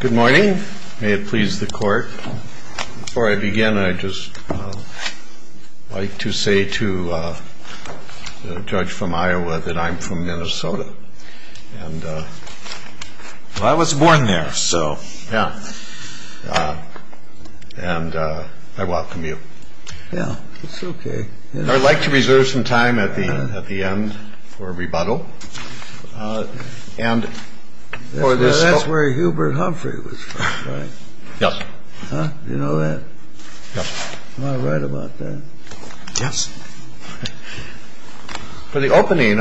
Good morning. May it please the court. Before I begin, I'd just like to say to the judge from Iowa that I'm from Minnesota. And I was born there, so. Yeah. And I welcome you. Yeah, it's OK. I'd like to reserve some time at the end for rebuttal. That's where Hubert Humphrey was from, right? Yep. Huh? You know that? Yep. Am I right about that? Yes. For the opening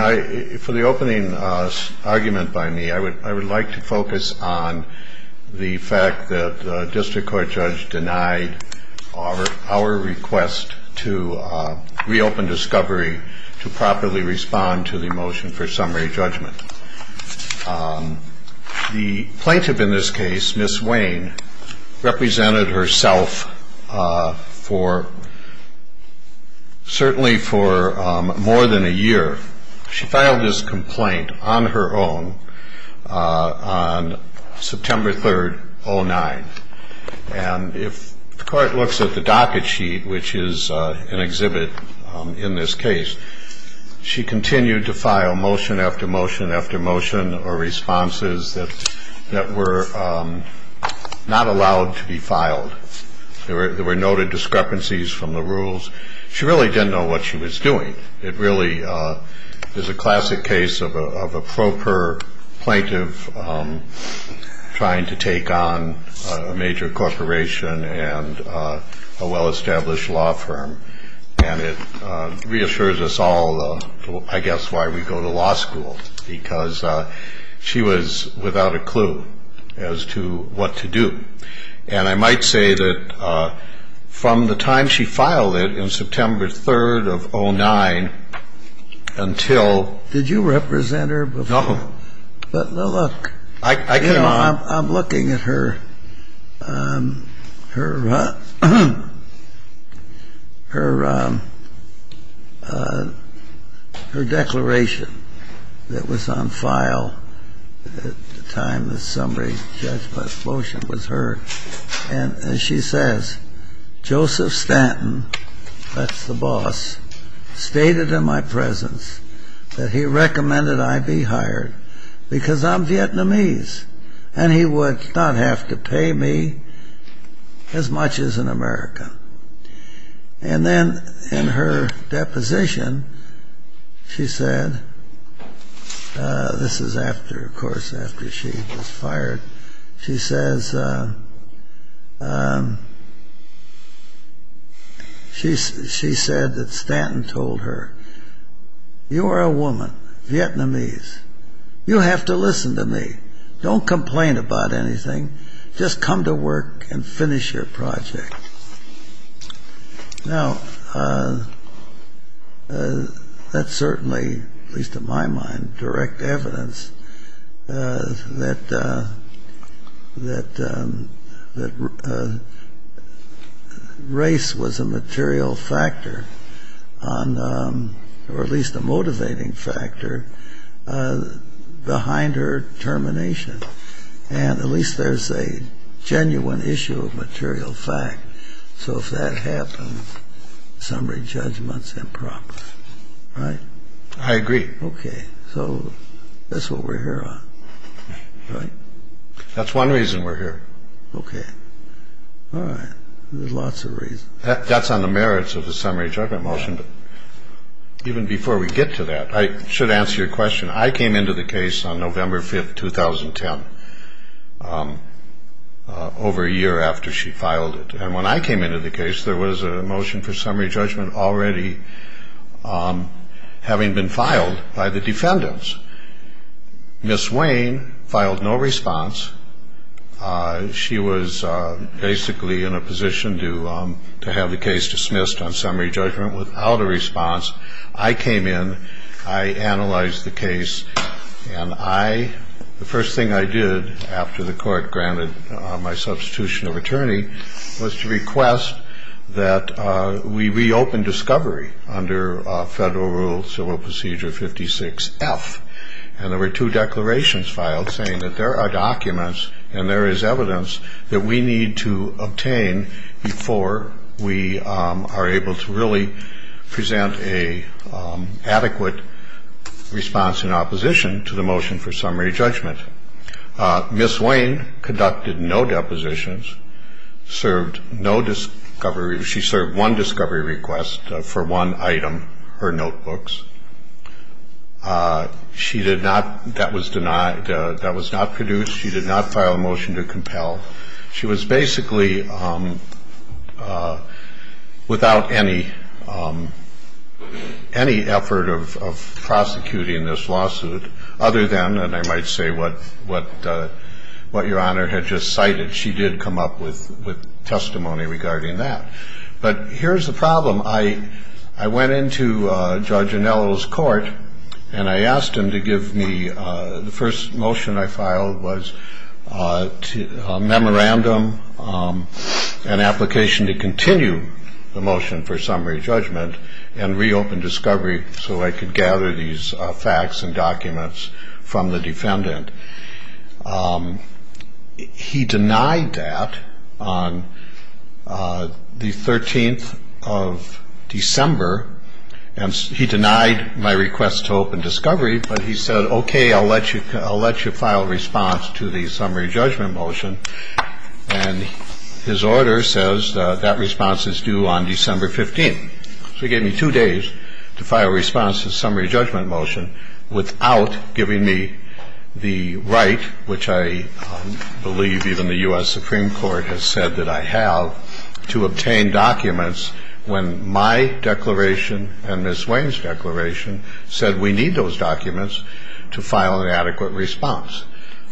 argument by me, I would like to focus on the fact that the district court judge denied our request to reopen discovery to properly respond to the motion for summary judgment. The plaintiff in this case, Ms. Wayne, represented herself for certainly for more than a year. She filed this complaint on her own on September 3rd, 09. And if the court looks at the docket sheet, which is an exhibit in this case, she continued to file motion after motion after motion or responses that that were not allowed to be filed. There were noted discrepancies from the rules. She really didn't know what she was doing. It really is a classic case of a proper plaintiff trying to take on a major corporation and a well-established law firm. And it reassures us all, I guess, why we go to law school, because she was without a clue as to what to do. And I might say that from the time she filed it in September 3rd of 09 until – Did you represent her before? No. But look – I cannot – And she says, Joseph Stanton, that's the boss, stated in my presence that he recommended I be hired because I'm Vietnamese and he would not have to pay me as much as an American. And then in her deposition, she said – This is after, of course, after she was fired. She says – She said that Stanton told her, You are a woman, Vietnamese. You have to listen to me. Don't complain about anything. Just come to work and finish your project. Now, that's certainly, at least in my mind, direct evidence that race was a material factor, or at least a motivating factor, behind her termination. And at least there's a genuine issue of material fact. So if that happened, summary judgment's improper. Right? I agree. Okay. So that's what we're here on. That's one reason we're here. Okay. All right. There's lots of reasons. That's on the merits of the summary judgment motion, but even before we get to that, I should answer your question. I came into the case on November 5th, 2010, over a year after she filed it. And when I came into the case, there was a motion for summary judgment already having been filed by the defendants. Ms. Wayne filed no response. She was basically in a position to have the case dismissed on summary judgment without a response. I came in. I analyzed the case. And the first thing I did, after the court granted my substitution of attorney, was to request that we reopen discovery under Federal Rule Civil Procedure 56-F. And there were two declarations filed saying that there are documents and there is evidence that we need to obtain before we are able to really present an adequate response in opposition to the motion for summary judgment. Ms. Wayne conducted no depositions, served no discovery. She served one discovery request for one item, her notebooks. She did not. That was denied. That was not produced. She did not file a motion to compel. She was basically without any effort of prosecuting this lawsuit other than, and I might say, what Your Honor had just cited. She did come up with testimony regarding that. But here's the problem. I went into Judge Anello's court and I asked him to give me the first motion I filed was a memorandum, an application to continue the motion for summary judgment and reopen discovery so I could gather these facts and documents from the defendant. He denied that on the 13th of December, and he denied my request to open discovery, but he said, okay, I'll let you file a response to the summary judgment motion. And his order says that response is due on December 15th. So he gave me two days to file a response to the summary judgment motion without giving me the right, which I believe even the U.S. Supreme Court has said that I have, to obtain documents when my declaration and Ms. Wayne's declaration said we need those documents to file an adequate response.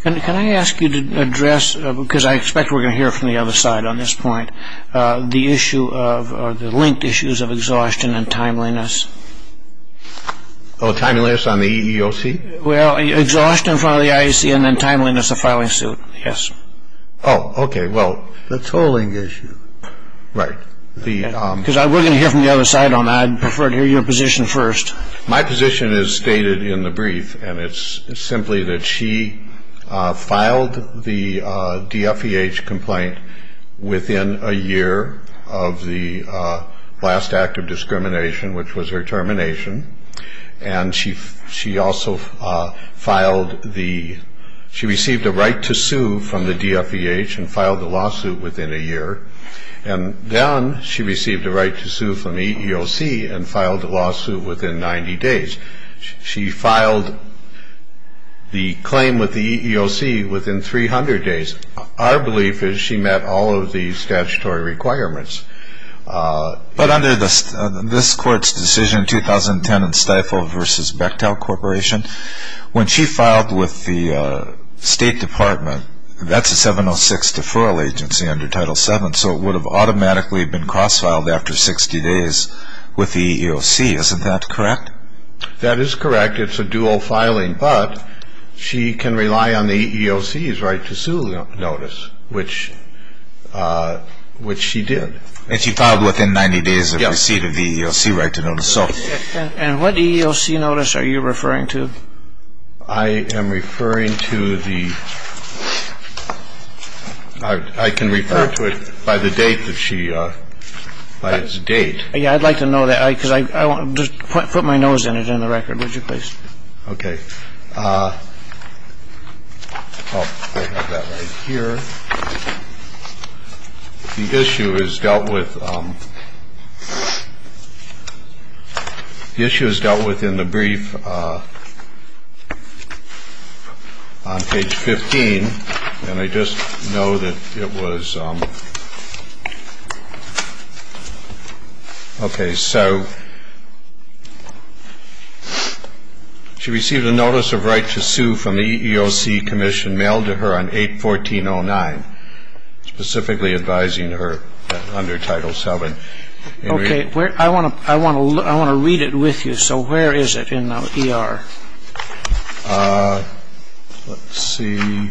And can I ask you to address, because I expect we're going to hear from the other side on this point, the issue of, or the linked issues of exhaustion and timeliness. Oh, timeliness on the EEOC? Well, exhaustion in front of the IAC and then timeliness of filing suit, yes. Oh, okay. Well, the tolling issue. Right. Because we're going to hear from the other side on that. I'd prefer to hear your position first. My position is stated in the brief, and it's simply that she filed the DFEH complaint within a year of the last act of discrimination, which was her termination. And she also filed the, she received a right to sue from the DFEH and filed the lawsuit within a year. And then she received a right to sue from the EEOC and filed the lawsuit within 90 days. She filed the claim with the EEOC within 300 days. Our belief is she met all of the statutory requirements. But under this court's decision in 2010 in Stifel v. Bechtel Corporation, when she filed with the State Department, that's a 706 deferral agency under Title VII, so it would have automatically been cross-filed after 60 days with the EEOC. Isn't that correct? That is correct. It's a dual filing, but she can rely on the EEOC's right to sue notice, which she did. And she filed within 90 days of receipt of the EEOC right to notice. And what EEOC notice are you referring to? I am referring to the, I can refer to it by the date that she, by its date. Yeah, I'd like to know that because I want to put my nose in it in the record, would you please? Okay. I have that right here. The issue is dealt with, the issue is dealt with in the brief on page 15. And I just know that it was, okay. So she received a notice of right to sue from the EEOC commission mailed to her on 8-1409, specifically advising her under Title VII. Okay. I want to read it with you. So where is it in the ER? Let's see.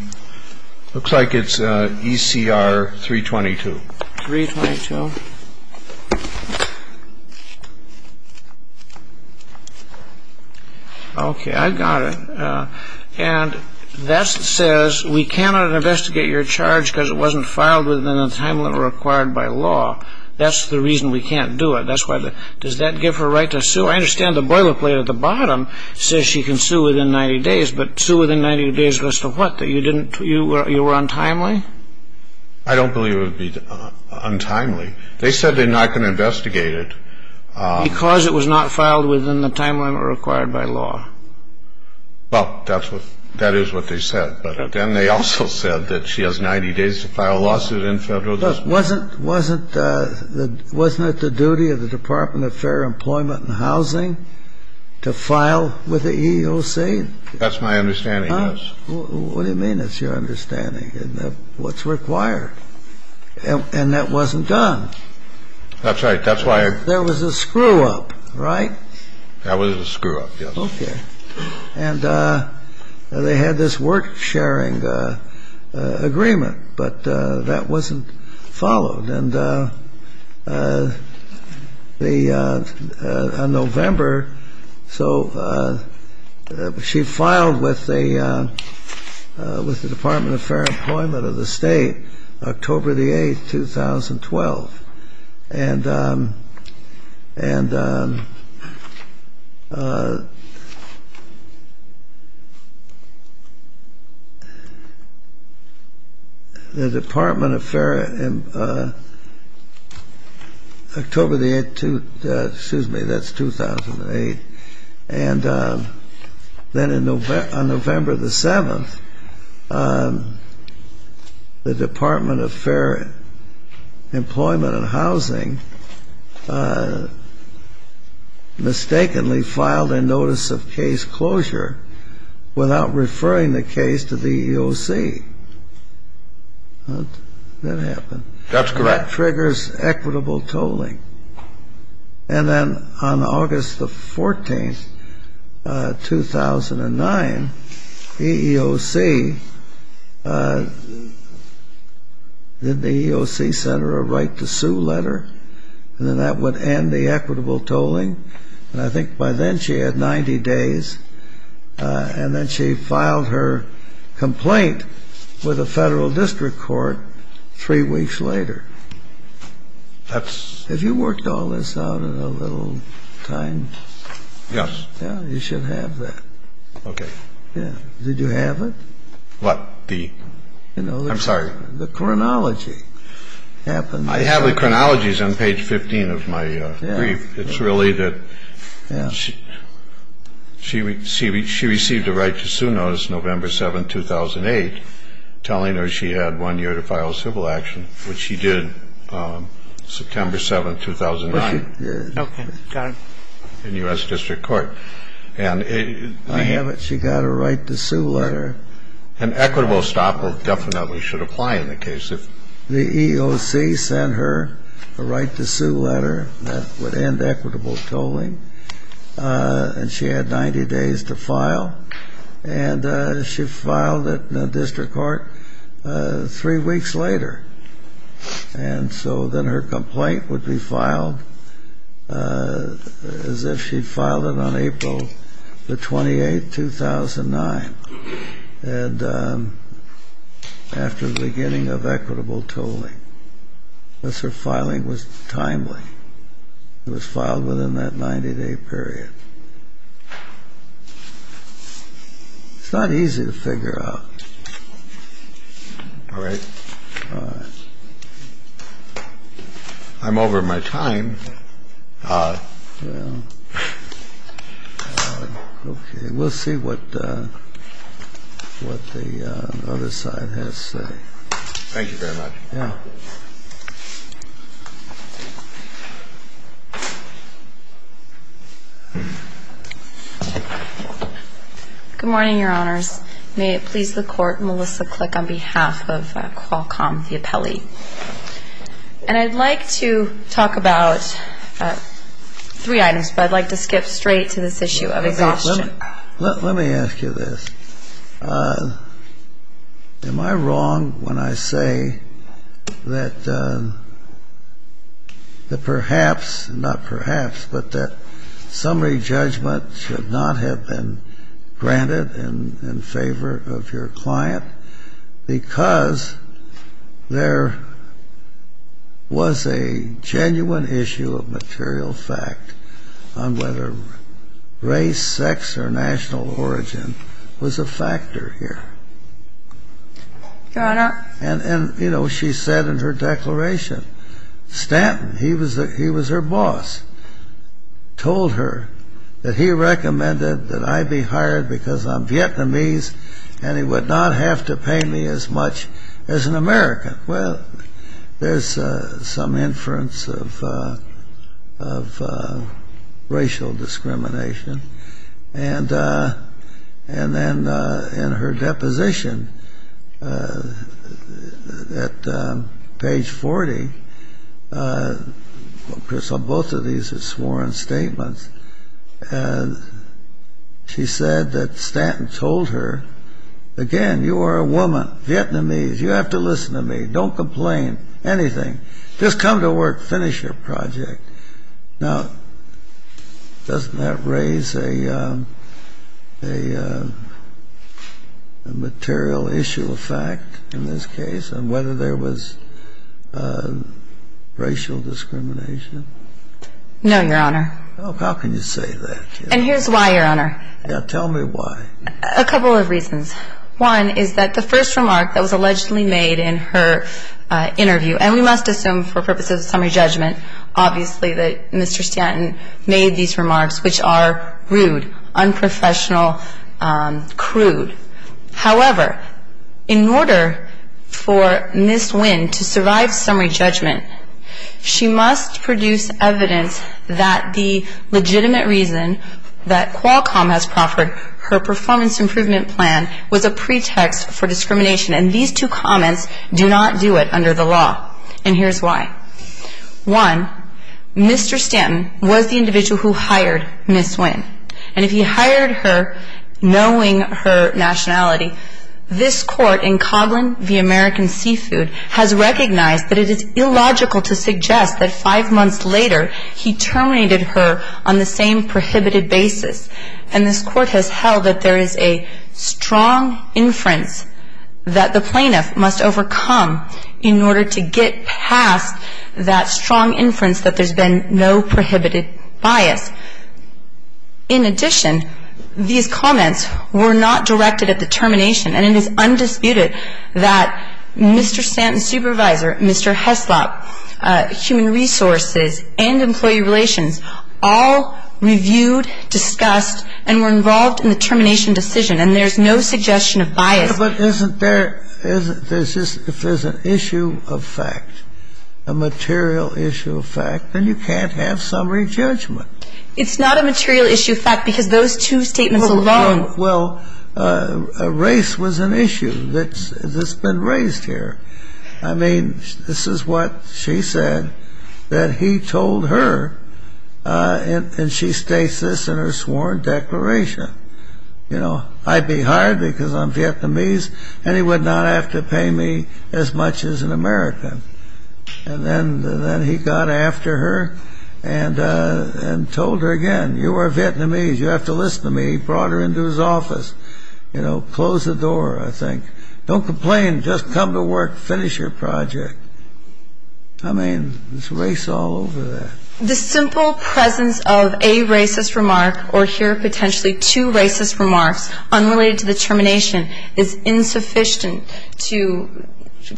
Looks like it's ECR 322. 322. Okay. I've got it. And that says we cannot investigate your charge because it wasn't filed within the time limit required by law. That's the reason we can't do it. That's why the, does that give her right to sue? Well, I understand the boilerplate at the bottom says she can sue within 90 days, but sue within 90 days as to what, that you didn't, you were untimely? I don't believe it would be untimely. They said they're not going to investigate it. Because it was not filed within the time limit required by law. Well, that's what, that is what they said. But then they also said that she has 90 days to file a lawsuit in federal. Wasn't, wasn't, wasn't it the duty of the Department of Fair Employment and Housing to file with the EEOC? That's my understanding, yes. What do you mean it's your understanding? What's required. And that wasn't done. That's right. That's why. There was a screw up, right? That was a screw up, yes. Okay. And they had this work sharing agreement, but that wasn't followed. And the, on November, so she filed with the, with the Department of Fair Employment of the state, October the 8th, 2012. And, and the Department of Fair, October the 8th, excuse me, that's 2008. And then on November the 7th, the Department of Fair Employment and Housing mistakenly filed a notice of case closure without referring the case to the EEOC. That happened. That's correct. That triggers equitable tolling. And then on August the 14th, 2009, EEOC, did the EEOC send her a right to sue letter? And then that would end the equitable tolling. And I think by then she had 90 days. And then she filed her complaint with the federal district court three weeks later. That's. Have you worked all this out in a little time? Yes. Yeah, you should have that. Okay. Yeah. Did you have it? What? The, I'm sorry. You know, the chronology happened. I have the chronologies on page 15 of my brief. Yeah. It's really that. Yeah. She received a right to sue notice November 7, 2008, telling her she had one year to file civil action, which she did September 7, 2009. Okay. Got it. In U.S. District Court. And. I have it. She got a right to sue letter. An equitable stop definitely should apply in the case. The EOC sent her a right to sue letter that would end equitable tolling. And she had 90 days to file. And she filed it in the district court three weeks later. And so then her complaint would be filed as if she'd filed it on April the 28th, 2009. And after the beginning of equitable tolling. Unless her filing was timely. It was filed within that 90-day period. It's not easy to figure out. All right. All right. I'm over my time. All right. Okay. We'll see what the other side has to say. Thank you very much. Yeah. Good morning, Your Honors. May it please the Court, Melissa Click on behalf of Qualcomm, the appellee. And I'd like to talk about three items. But I'd like to skip straight to this issue of exhaustion. Let me ask you this. Am I wrong when I say that perhaps, not perhaps, but that summary judgment should not have been granted in favor of your client? Because there was a genuine issue of material fact on whether race, sex, or national origin was a factor here. Your Honor. And, you know, she said in her declaration, Stanton, he was her boss, told her that he recommended that I be hired because I'm Vietnamese and he would not have to pay me as much as an American. Well, there's some inference of racial discrimination. And then in her deposition at page 40, both of these are sworn statements, she said that Stanton told her, again, you are a woman, Vietnamese, you have to listen to me, don't complain, anything. Just come to work, finish your project. Now, doesn't that raise a material issue of fact in this case on whether there was racial discrimination? No, Your Honor. How can you say that? And here's why, Your Honor. Tell me why. A couple of reasons. One is that the first remark that was allegedly made in her interview, and we must assume for purposes of summary judgment, obviously that Mr. Stanton made these remarks, which are rude, unprofessional, crude. However, in order for Ms. Nguyen to survive summary judgment, she must produce evidence that the legitimate reason that Qualcomm has proffered her performance improvement plan was a pretext for discrimination. And these two comments do not do it under the law. And here's why. One, Mr. Stanton was the individual who hired Ms. Nguyen. And if he hired her knowing her nationality, this Court in Coghlan v. American Seafood has recognized that it is illogical to suggest that five months later he terminated her on the same prohibited basis. And this Court has held that there is a strong inference that the plaintiff must overcome in order to get past that strong inference that there's been no prohibited bias. In addition, these comments were not directed at the termination. And it is undisputed that Mr. Stanton's supervisor, Mr. Heslop, human resources, and employee relations all reviewed, discussed, and were involved in the termination decision, and there's no suggestion of bias. But isn't there — if there's an issue of fact, a material issue of fact, then you can't have summary judgment. It's not a material issue of fact because those two statements alone — Well, race was an issue that's been raised here. I mean, this is what she said that he told her, and she states this in her sworn declaration. You know, I'd be hired because I'm Vietnamese, and he would not have to pay me as much as an American. And then he got after her and told her again, you are Vietnamese. You have to listen to me. He brought her into his office. You know, closed the door, I think. Don't complain. Just come to work. Finish your project. I mean, there's race all over that. The simple presence of a racist remark or here potentially two racist remarks unrelated to the termination is insufficient to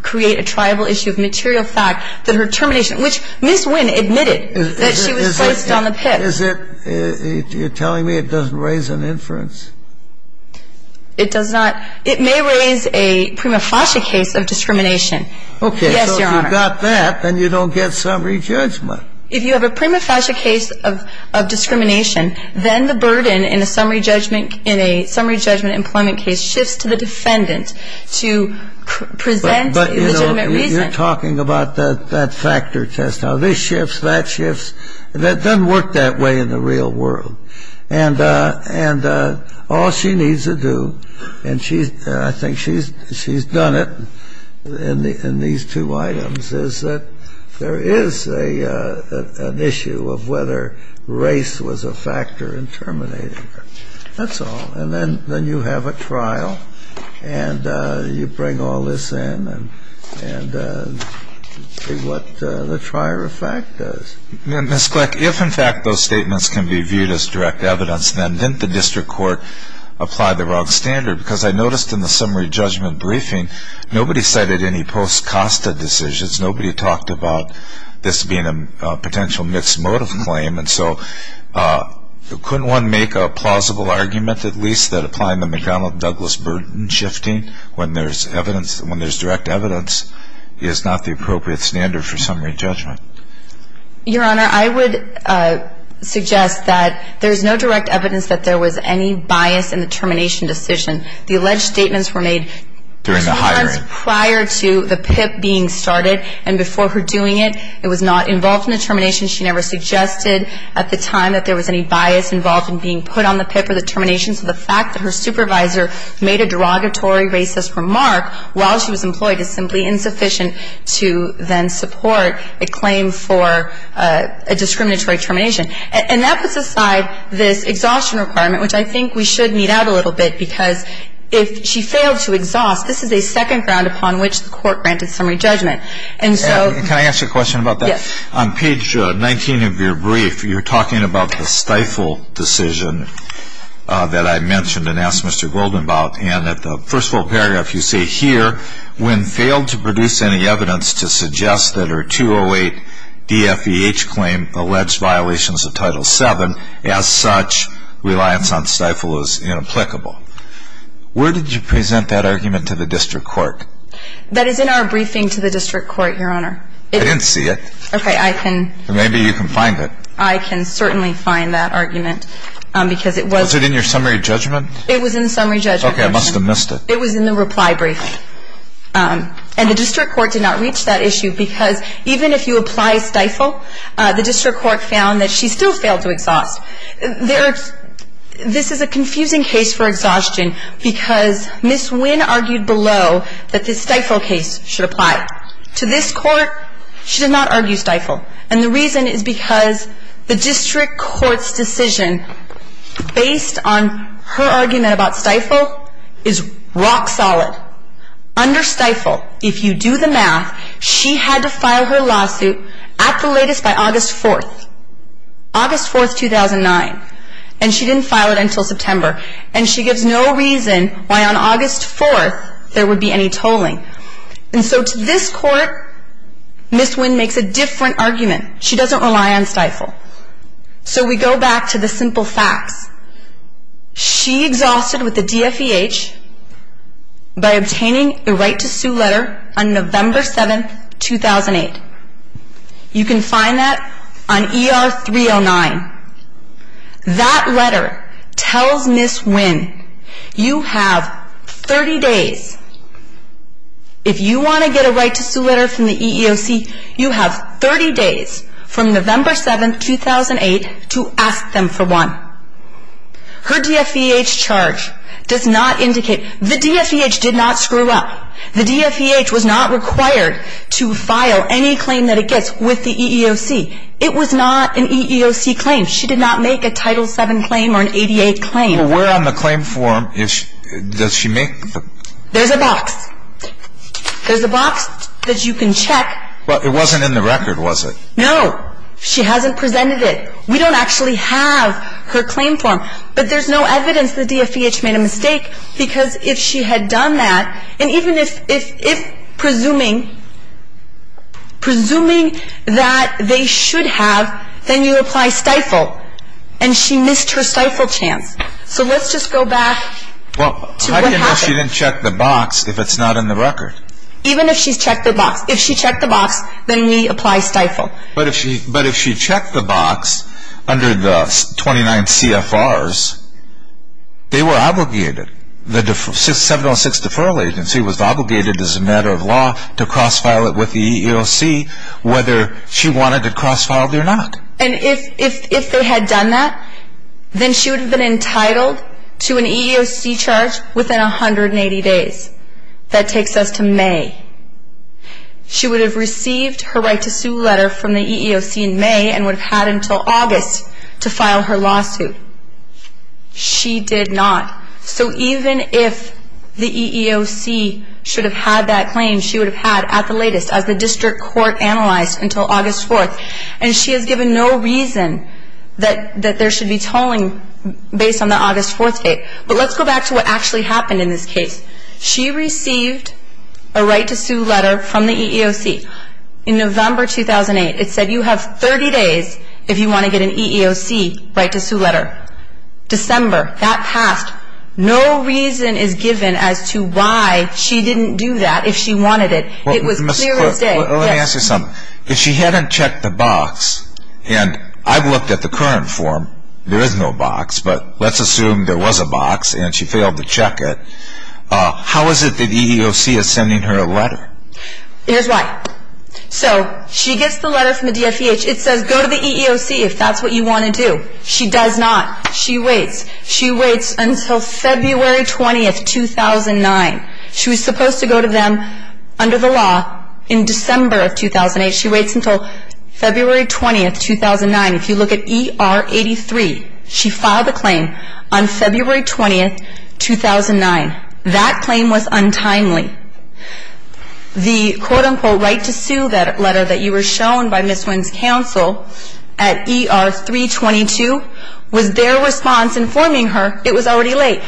create a triable issue of material fact that her termination, which Ms. Wynn admitted that she was placed on the pick. Is it — you're telling me it doesn't raise an inference? It does not. It may raise a prima facie case of discrimination. Yes, Your Honor. Okay. So if you've got that, then you don't get summary judgment. If you have a prima facie case of discrimination, then the burden in a summary judgment employment case shifts to the defendant to present a legitimate reason. But, you know, you're talking about that factor test, how this shifts, that shifts. That doesn't work that way in the real world. And all she needs to do, and I think she's done it in these two items, is that there is an issue of whether race was a factor in terminating her. That's all. And then you have a trial and you bring all this in and see what the trier of fact does. Ms. Kleck, if, in fact, those statements can be viewed as direct evidence, then didn't the district court apply the wrong standard? Because I noticed in the summary judgment briefing, nobody cited any post-Costa decisions. Nobody talked about this being a potential mixed motive claim. And so couldn't one make a plausible argument at least that applying the McDonnell-Douglas burden shifting when there's direct evidence is not the appropriate standard for summary judgment? Your Honor, I would suggest that there's no direct evidence that there was any bias in the termination decision. The alleged statements were made during the hiring. Prior to the PIP being started and before her doing it, it was not involved in the termination. She never suggested at the time that there was any bias involved in being put on the PIP or the termination. So the fact that her supervisor made a derogatory racist remark while she was employed is simply insufficient to then support a claim for a discriminatory termination. And that puts aside this exhaustion requirement, which I think we should mete out a little bit, because if she failed to exhaust, this is a second ground upon which the court granted summary judgment. And so — Can I ask a question about that? Yes. On page 19 of your brief, you're talking about the stifle decision that I mentioned and asked Mr. Golden about. And at the first full paragraph, you say here, when failed to produce any evidence to suggest that her 208 DFEH claim alleged violations of Title VII, as such, reliance on stifle is inapplicable. Where did you present that argument to the district court? That is in our briefing to the district court, Your Honor. I didn't see it. Okay. I can — Maybe you can find it. I can certainly find that argument, because it was — Was it in your summary judgment? It was in summary judgment. Okay. I must have missed it. It was in the reply briefing. And the district court did not reach that issue, because even if you apply stifle, the district court found that she still failed to exhaust. There — this is a confusing case for exhaustion, because Ms. Winn argued below that the stifle case should apply. To this court, she did not argue stifle. And the reason is because the district court's decision, based on her argument about stifle, is rock solid. Under stifle, if you do the math, she had to file her lawsuit at the latest by August 4th, August 4th, 2009. And she didn't file it until September. And she gives no reason why on August 4th there would be any tolling. And so to this court, Ms. Winn makes a different argument. She doesn't rely on stifle. So we go back to the simple facts. She exhausted with the DFEH by obtaining a right to sue letter on November 7th, 2008. You can find that on ER 309. That letter tells Ms. Winn you have 30 days. If you want to get a right to sue letter from the EEOC, you have 30 days from November 7th, 2008 to ask them for one. Her DFEH charge does not indicate — the DFEH did not screw up. The DFEH was not required to file any claim that it gets with the EEOC. It was not an EEOC claim. She did not make a Title VII claim or an 88 claim. Well, where on the claim form does she make the — There's a box. There's a box that you can check. But it wasn't in the record, was it? No. She hasn't presented it. We don't actually have her claim form. But there's no evidence the DFEH made a mistake because if she had done that, and even if — presuming that they should have, then you apply stifle. And she missed her stifle chance. So let's just go back to what happened. Well, how do you know she didn't check the box if it's not in the record? Even if she's checked the box. If she checked the box, then we apply stifle. But if she checked the box under the 29 CFRs, they were obligated. The 706 Deferral Agency was obligated as a matter of law to cross-file it with the EEOC whether she wanted it cross-filed or not. And if they had done that, then she would have been entitled to an EEOC charge within 180 days. That takes us to May. She would have received her right to sue letter from the EEOC in May and would have had until August to file her lawsuit. She did not. So even if the EEOC should have had that claim, she would have had at the latest as the district court analyzed until August 4th. And she has given no reason that there should be tolling based on the August 4th date. But let's go back to what actually happened in this case. She received a right to sue letter from the EEOC in November 2008. It said you have 30 days if you want to get an EEOC right to sue letter. December, that passed. No reason is given as to why she didn't do that if she wanted it. It was clear as day. Let me ask you something. If she hadn't checked the box, and I've looked at the current form. There is no box, but let's assume there was a box and she failed to check it. How is it that EEOC is sending her a letter? Here's why. So she gets the letter from the DFEH. It says go to the EEOC if that's what you want to do. She does not. She waits. She waits until February 20th, 2009. She was supposed to go to them under the law in December of 2008. She waits until February 20th, 2009. If you look at ER 83, she filed a claim on February 20th, 2009. That claim was untimely. The quote-unquote right to sue letter that you were shown by Ms. Wynn's counsel at ER 322 was their response informing her it was already late.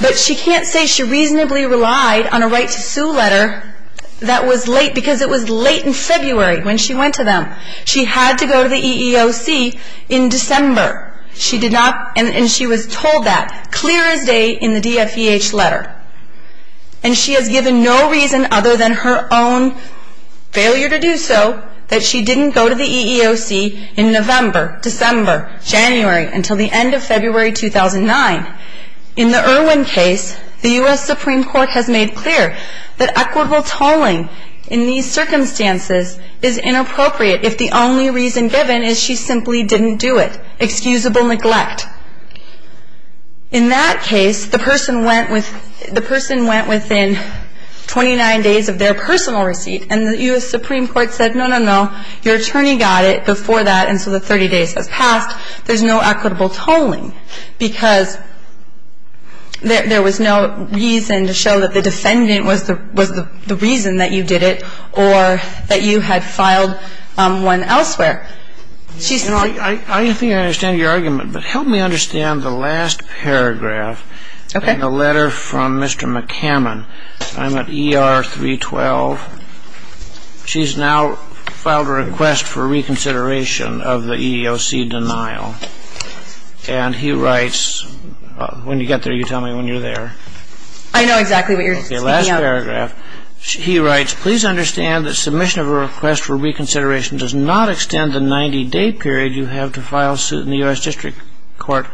But she can't say she reasonably relied on a right to sue letter that was late because it was late in February when she went to them. She had to go to the EEOC in December, and she was told that. Clear as day in the DFEH letter. And she has given no reason other than her own failure to do so that she didn't go to the EEOC in November, December, January, until the end of February 2009. In the Irwin case, the U.S. Supreme Court has made clear that equitable tolling in these circumstances is inappropriate if the only reason given is she simply didn't do it. Excusable neglect. In that case, the person went within 29 days of their personal receipt, and the U.S. Supreme Court said, no, no, no, your attorney got it before that, and so the 30 days has passed. There's no equitable tolling because there was no reason to show that the defendant was the reason that you did it or that you had filed one elsewhere. I think I understand your argument, but help me understand the last paragraph in the letter from Mr. McCammon. I'm at ER 312. She's now filed a request for reconsideration of the EEOC denial, and he writes, when you get there, you tell me when you're there. I know exactly what you're speaking of. Okay, last paragraph. He writes, please understand that submission of a request for reconsideration does not extend the 90-day period you have to file suit in the U.S. District Court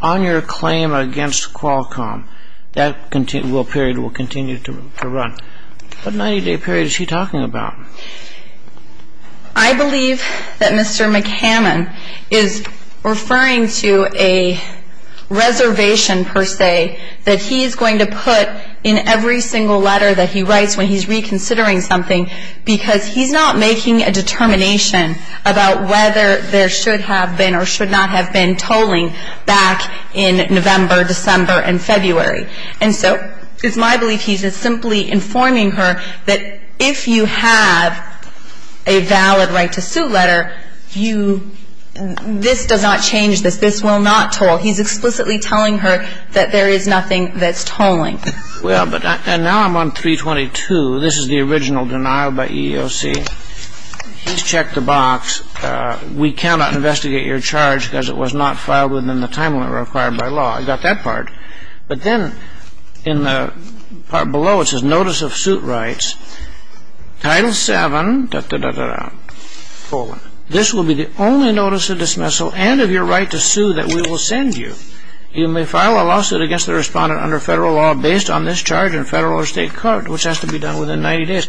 on your claim against Qualcomm. That period will continue to run. What 90-day period is she talking about? I believe that Mr. McCammon is referring to a reservation, per se, that he is going to put in every single letter that he writes when he's reconsidering something because he's not making a determination about whether there should have been or should not have been tolling back in November, December, and February. And so it's my belief he's simply informing her that if you have a valid right-to-suit letter, you – this does not change this. This will not toll. He's explicitly telling her that there is nothing that's tolling. Well, but – and now I'm on 322. This is the original denial by EEOC. Please check the box. We cannot investigate your charge because it was not filed within the time limit required by law. I got that part. But then in the part below, it says notice of suit rights. Title VII, da-da-da-da-da, tolling. This will be the only notice of dismissal and of your right to sue that we will send you. You may file a lawsuit against the respondent under federal law based on this charge in federal or state court, which has to be done within 90 days.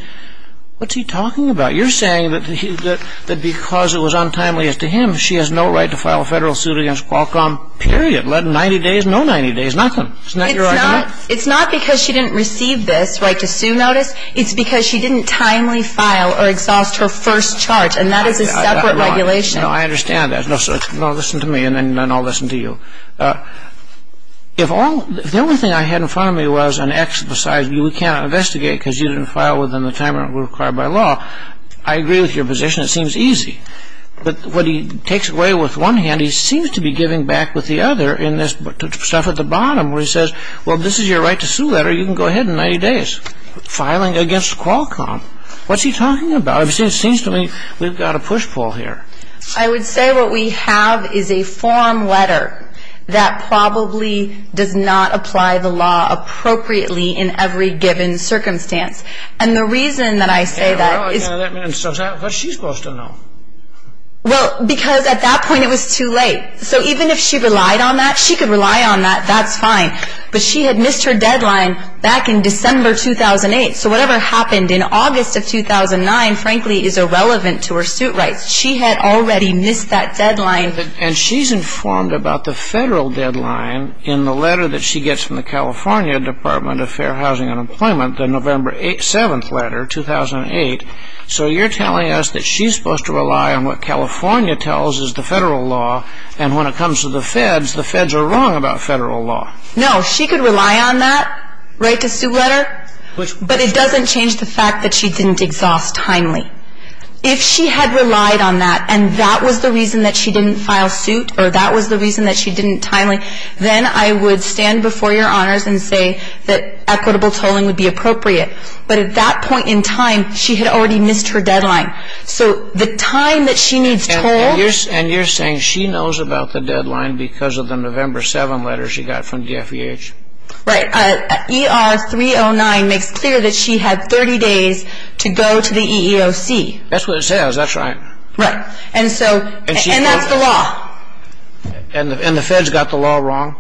What's he talking about? You're saying that because it was untimely as to him, she has no right to file a federal suit against Qualcomm, period, let 90 days, no 90 days, nothing. Isn't that your argument? It's not because she didn't receive this right to sue notice. It's because she didn't timely file or exhaust her first charge, and that is a separate regulation. No, I understand that. No, listen to me, and then I'll listen to you. If all the only thing I had in front of me was an X besides we can't investigate because you didn't file within the time limit required by law, I agree with your position. It seems easy. But what he takes away with one hand, he seems to be giving back with the other in this stuff at the bottom where he says, well, this is your right to sue that or you can go ahead in 90 days. Filing against Qualcomm, what's he talking about? It seems to me we've got a push-pull here. I would say what we have is a form letter that probably does not apply the law appropriately in every given circumstance. And the reason that I say that is... Yeah, well, that man says that. What's she supposed to know? Well, because at that point it was too late. So even if she relied on that, she could rely on that. That's fine. But she had missed her deadline back in December 2008. So whatever happened in August of 2009, frankly, is irrelevant to her suit rights. She had already missed that deadline. And she's informed about the federal deadline in the letter that she gets from the California Department of Fair Housing and Employment, the November 7th letter, 2008. So you're telling us that she's supposed to rely on what California tells is the federal law. And when it comes to the feds, the feds are wrong about federal law. No, she could rely on that right to sue letter. But it doesn't change the fact that she didn't exhaust timely. If she had relied on that and that was the reason that she didn't file suit or that was the reason that she didn't timely, then I would stand before Your Honors and say that equitable tolling would be appropriate. But at that point in time, she had already missed her deadline. So the time that she needs tolled... And you're saying she knows about the deadline because of the November 7th letter she got from the FEH. Right. ER 309 makes clear that she had 30 days to go to the EEOC. That's what it says. That's right. Right. And so... And that's the law. And the feds got the law wrong?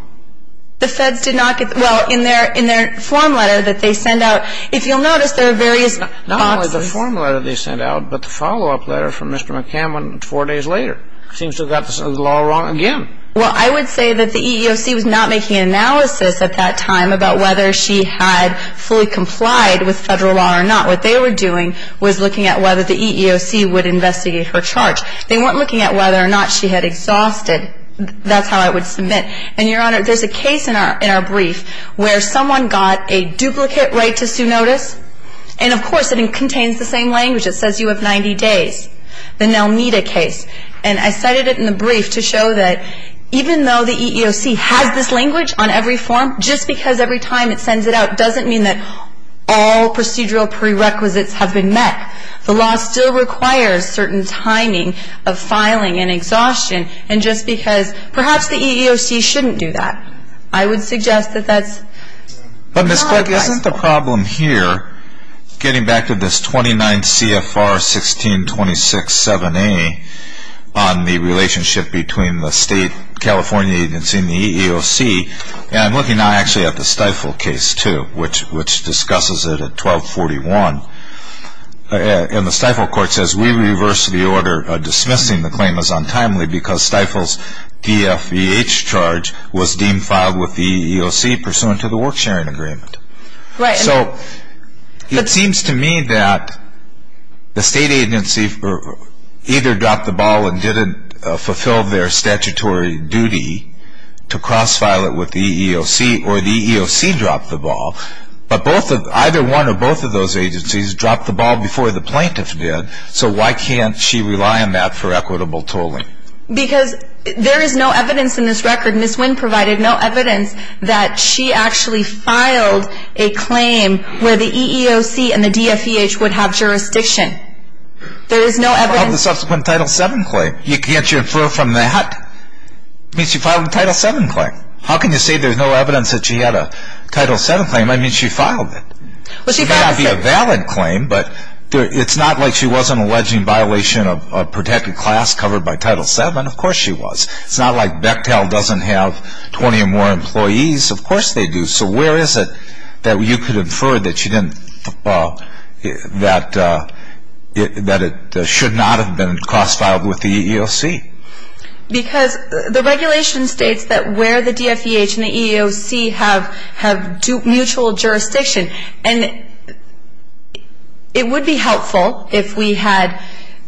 The feds did not get... Well, in their form letter that they send out... If you'll notice, there are various boxes. Not only the form letter they sent out, but the follow-up letter from Mr. McCammon four days later. Seems to have got the law wrong again. Well, I would say that the EEOC was not making an analysis at that time about whether she had fully complied with federal law or not. What they were doing was looking at whether the EEOC would investigate her charge. They weren't looking at whether or not she had exhausted... That's how I would submit. And, Your Honor, there's a case in our brief where someone got a duplicate right to sue notice. And, of course, it contains the same language. It says you have 90 days. The Nelmeda case. And I cited it in the brief to show that even though the EEOC has this language on every form, just because every time it sends it out doesn't mean that all procedural prerequisites have been met. The law still requires certain timing of filing and exhaustion. And just because... Perhaps the EEOC shouldn't do that. I would suggest that that's not...... on the relationship between the state California agency and the EEOC. And I'm looking now actually at the Stiefel case, too, which discusses it at 1241. And the Stiefel court says we reverse the order dismissing the claim as untimely because Stiefel's DFEH charge was deemed filed with the EEOC pursuant to the work sharing agreement. Right. So it seems to me that the state agency either dropped the ball and didn't fulfill their statutory duty to cross-file it with the EEOC, or the EEOC dropped the ball. But either one or both of those agencies dropped the ball before the plaintiff did. So why can't she rely on that for equitable tolling? Because there is no evidence in this record. Ms. Wynn provided no evidence that she actually filed a claim where the EEOC and the DFEH would have jurisdiction. There is no evidence... Of the subsequent Title VII claim. Can't you infer from that? I mean, she filed a Title VII claim. How can you say there's no evidence that she had a Title VII claim? I mean, she filed it. Well, she passed it. It may not be a valid claim, but it's not like she wasn't alleging violation of protected class covered by Title VII. Of course she was. It's not like Bechtel doesn't have 20 or more employees. Of course they do. So where is it that you could infer that it should not have been cross-filed with the EEOC? Because the regulation states that where the DFEH and the EEOC have mutual jurisdiction. And it would be helpful if we had...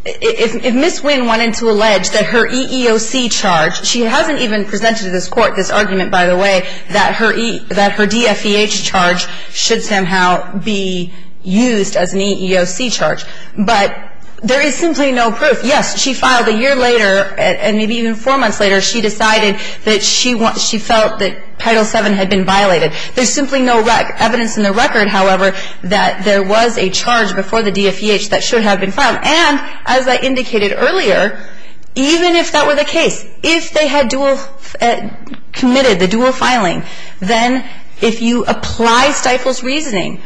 If Ms. Wynn wanted to allege that her EEOC charge... She hasn't even presented to this Court this argument, by the way, that her DFEH charge should somehow be used as an EEOC charge. But there is simply no proof. Yes, she filed a year later, and maybe even four months later, she decided that she felt that Title VII had been violated. There's simply no evidence in the record, however, that there was a charge before the DFEH that should have been filed. And as I indicated earlier, even if that were the case, if they had committed the dual filing, then if you apply Stifel's reasoning,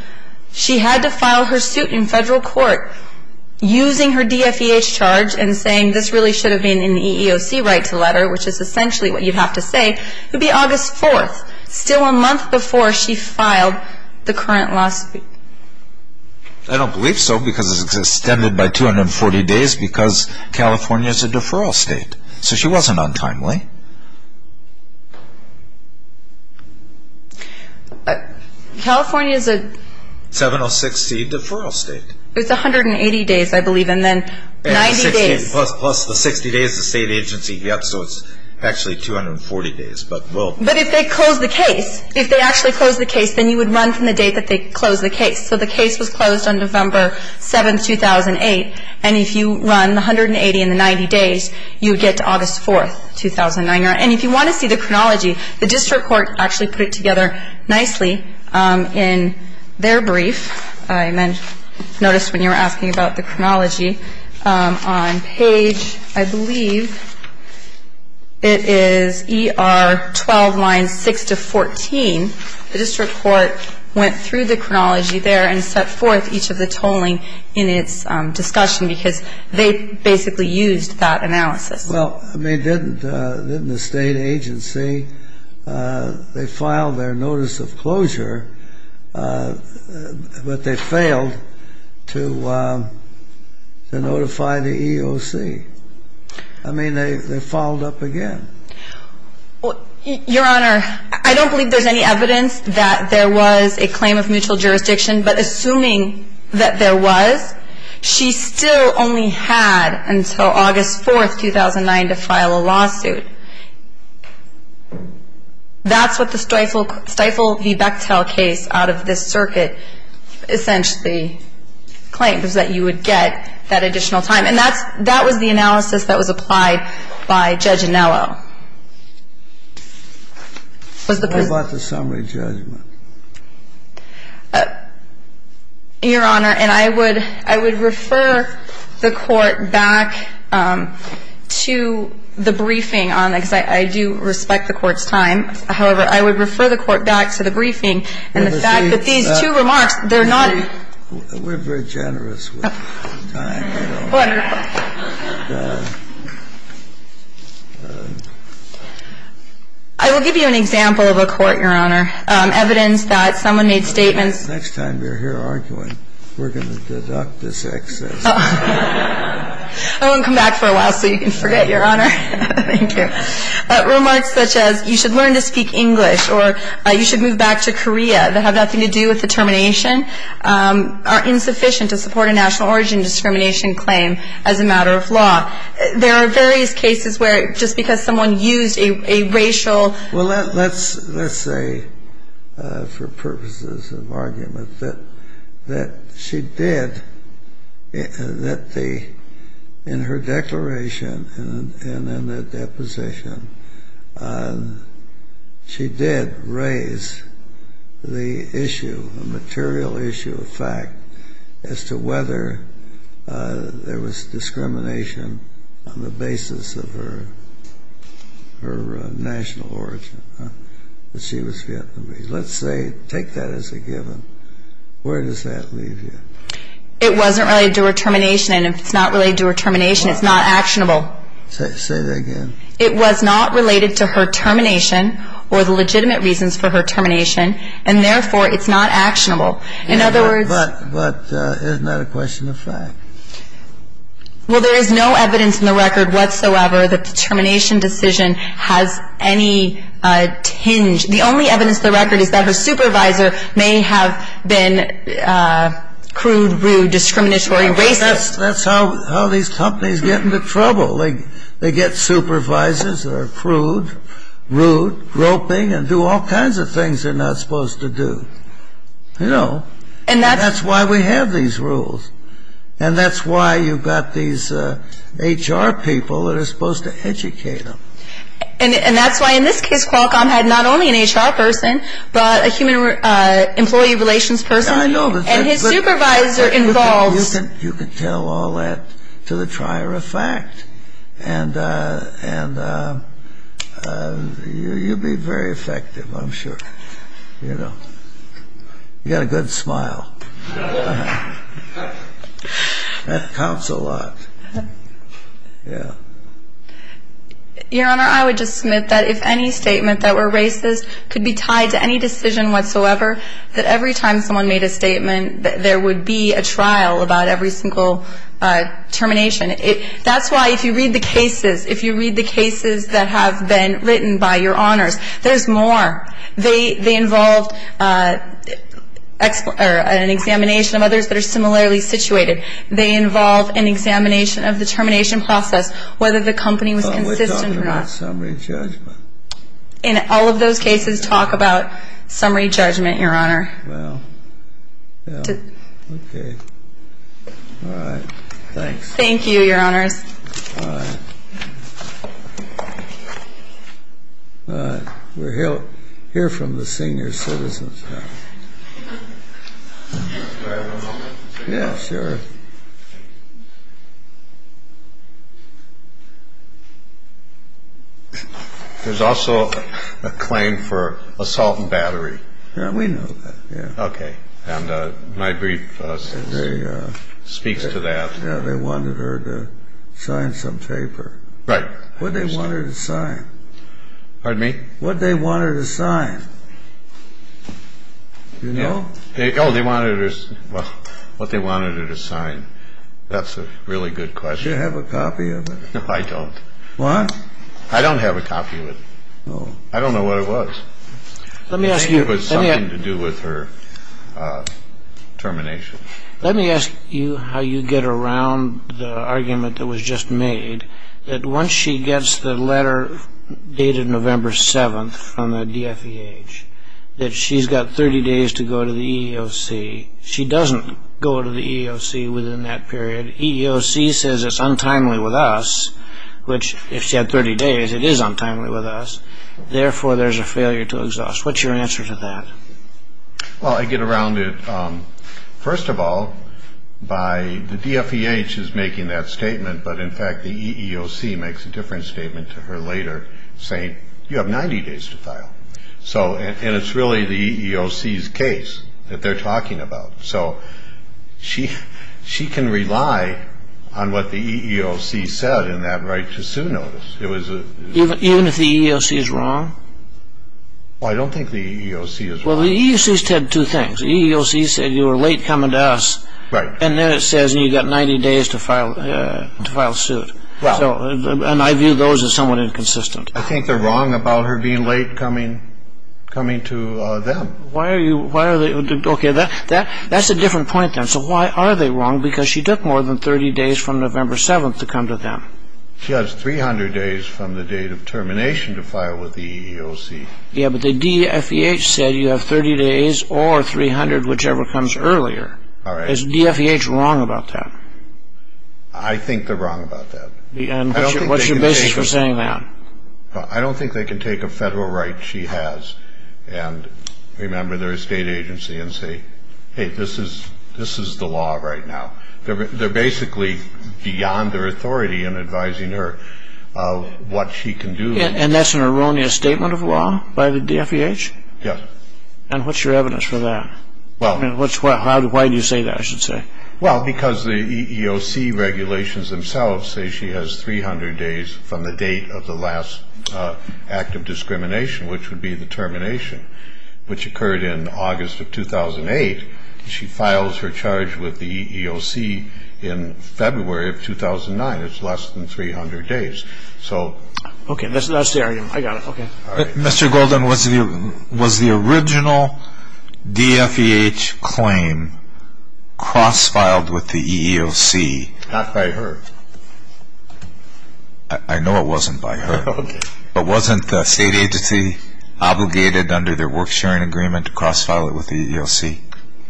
she had to file her suit in federal court using her DFEH charge and saying this really should have been an EEOC right to letter, which is essentially what you'd have to say. It would be August 4th, still a month before she filed the current lawsuit. I don't believe so because it's extended by 240 days because California is a deferral state. So she wasn't untimely. California is a... 706C deferral state. It's 180 days, I believe, and then 90 days. Plus the 60 days the state agency gets, so it's actually 240 days. But if they close the case, if they actually close the case, then you would run from the date that they close the case. So the case was closed on November 7th, 2008, and if you run the 180 and the 90 days, you would get to August 4th, 2009. And if you want to see the chronology, the district court actually put it together nicely in their brief. I noticed when you were asking about the chronology, on page, I believe, it is ER 12, lines 6 to 14. The district court went through the chronology there and set forth each of the tolling in its discussion because they basically used that analysis. Well, I mean, didn't the state agency, they filed their notice of closure but they failed to notify the EOC? I mean, they filed up again. Your Honor, I don't believe there's any evidence that there was a claim of mutual jurisdiction, but assuming that there was, she still only had until August 4th, 2009, to file a lawsuit. That's what the Stiefel v. Bechtel case out of this circuit essentially claimed, was that you would get that additional time. And that was the analysis that was applied by Judge Anello. What about the summary judgment? Your Honor, and I would refer the court back to the briefing on that. I do respect the court's time. However, I would refer the court back to the briefing and the fact that these two remarks, they're not. We're very generous with time. I will give you an example of a court, Your Honor. Evidence that someone made statements. Next time you're here arguing, we're going to deduct this excess. I won't come back for a while so you can forget, Your Honor. Thank you. Remarks such as you should learn to speak English or you should move back to Korea that have nothing to do with the termination are insufficient to support a national origin discrimination claim as a matter of law. There are various cases where just because someone used a racial. Well, let's say for purposes of argument that she did, that in her declaration and in the deposition, she did raise the issue, the material issue of fact, as to whether there was discrimination on the basis of her national origin, that she was Vietnamese. Let's say, take that as a given. Where does that leave you? It wasn't related to her termination. And if it's not related to her termination, it's not actionable. Say that again. It was not related to her termination or the legitimate reasons for her termination. And therefore, it's not actionable. In other words. But isn't that a question of fact? Well, there is no evidence in the record whatsoever that the termination decision has any tinge. The only evidence in the record is that her supervisor may have been crude, rude, discriminatory, racist. That's how these companies get into trouble. They get supervisors that are crude, rude, groping, and do all kinds of things they're not supposed to do. You know. And that's why we have these rules. And that's why you've got these HR people that are supposed to educate them. And that's why, in this case, Qualcomm had not only an HR person, but a human employee relations person. And his supervisor involved. You can tell all that to the trier of fact. And you'll be very effective, I'm sure. You know. You've got a good smile. That counts a lot. Yeah. Your Honor, I would just submit that if any statement that were racist could be tied to any decision whatsoever, that every time someone made a statement, there would be a trial about every single termination. That's why, if you read the cases, if you read the cases that have been written by your honors, there's more. They involved an examination of others that are similarly situated. They involved an examination of the termination process, whether the company was consistent or not. But we're talking about summary judgment. And all of those cases talk about summary judgment, Your Honor. Well, yeah. Okay. All right. Thanks. Thank you, Your Honors. All right. All right. We'll hear from the senior citizens now. Do I have a moment? Yeah, sure. There's also a claim for assault and battery. Yeah, we know that. Yeah. Okay. And my brief speaks to that. Yeah, they wanted her to sign some paper. Right. What did they want her to sign? Pardon me? What did they want her to sign? Do you know? Oh, they wanted her to sign. That's a really good question. Do you have a copy of it? No, I don't. Why? I don't have a copy of it. Oh. I don't know what it was. Let me ask you. It was something to do with her termination. Let me ask you how you get around the argument that was just made, that once she gets the letter dated November 7th from the DFEH, that she's got 30 days to go to the EEOC. She doesn't go to the EEOC within that period. EEOC says it's untimely with us, which if she had 30 days, it is untimely with us. Therefore, there's a failure to exhaust. What's your answer to that? Well, I get around it, first of all, by the DFEH is making that statement, but, in fact, the EEOC makes a different statement to her later saying, you have 90 days to file. And it's really the EEOC's case that they're talking about. So she can rely on what the EEOC said in that right-to-sue notice. Even if the EEOC is wrong? Well, I don't think the EEOC is wrong. Well, the EEOC said two things. The EEOC said you were late coming to us. Right. And then it says you've got 90 days to file a suit. Well. And I view those as somewhat inconsistent. I think they're wrong about her being late coming to them. Why are you – okay, that's a different point then. So why are they wrong? Because she took more than 30 days from November 7th to come to them. She has 300 days from the date of termination to file with the EEOC. Yeah, but the DFEH said you have 30 days or 300, whichever comes earlier. All right. Is DFEH wrong about that? I think they're wrong about that. And what's your basis for saying that? I don't think they can take a federal right she has and remember their state agency and say, hey, this is the law right now. They're basically beyond their authority in advising her of what she can do. And that's an erroneous statement of law by the DFEH? Yes. And what's your evidence for that? Why do you say that, I should say? Well, because the EEOC regulations themselves say she has 300 days from the date of the last act of discrimination, which would be the termination, which occurred in August of 2008. She files her charge with the EEOC in February of 2009. It's less than 300 days. Okay. That's the argument. I got it. Okay. All right. Mr. Golden, was the original DFEH claim cross-filed with the EEOC? Not by her. I know it wasn't by her. Okay. But wasn't the state agency obligated under their work-sharing agreement to cross-file it with the EEOC?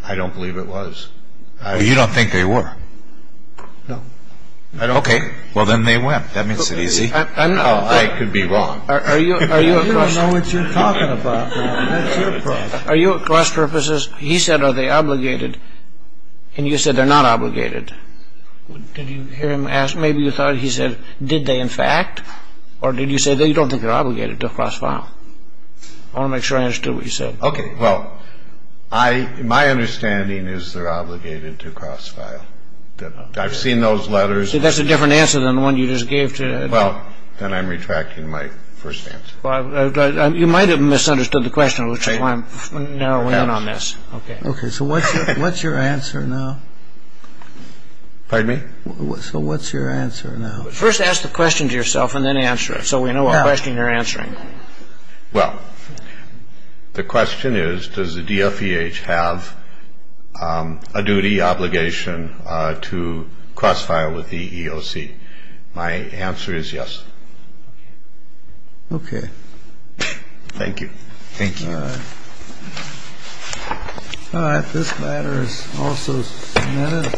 I don't believe it was. You don't think they were? No. Okay. Well, then they went. That means it's easy. I could be wrong. I don't know what you're talking about. That's your problem. Are you at cross purposes? He said, are they obligated? Did you hear him ask? Maybe you thought he said, did they in fact? Or did you say, no, you don't think they're obligated to cross-file? I want to make sure I understood what you said. Okay. Well, my understanding is they're obligated to cross-file. I've seen those letters. See, that's a different answer than the one you just gave. Well, then I'm retracting my first answer. You might have misunderstood the question, which is why I'm narrowing in on this. Okay. Okay. So what's your answer now? Pardon me? So what's your answer now? First ask the question to yourself and then answer it, so we know what question you're answering. Well, the question is, does the DFEH have a duty, obligation to cross-file with the EEOC? My answer is yes. Okay. Thank you. Thank you. All right. All right, this letter is also submitted.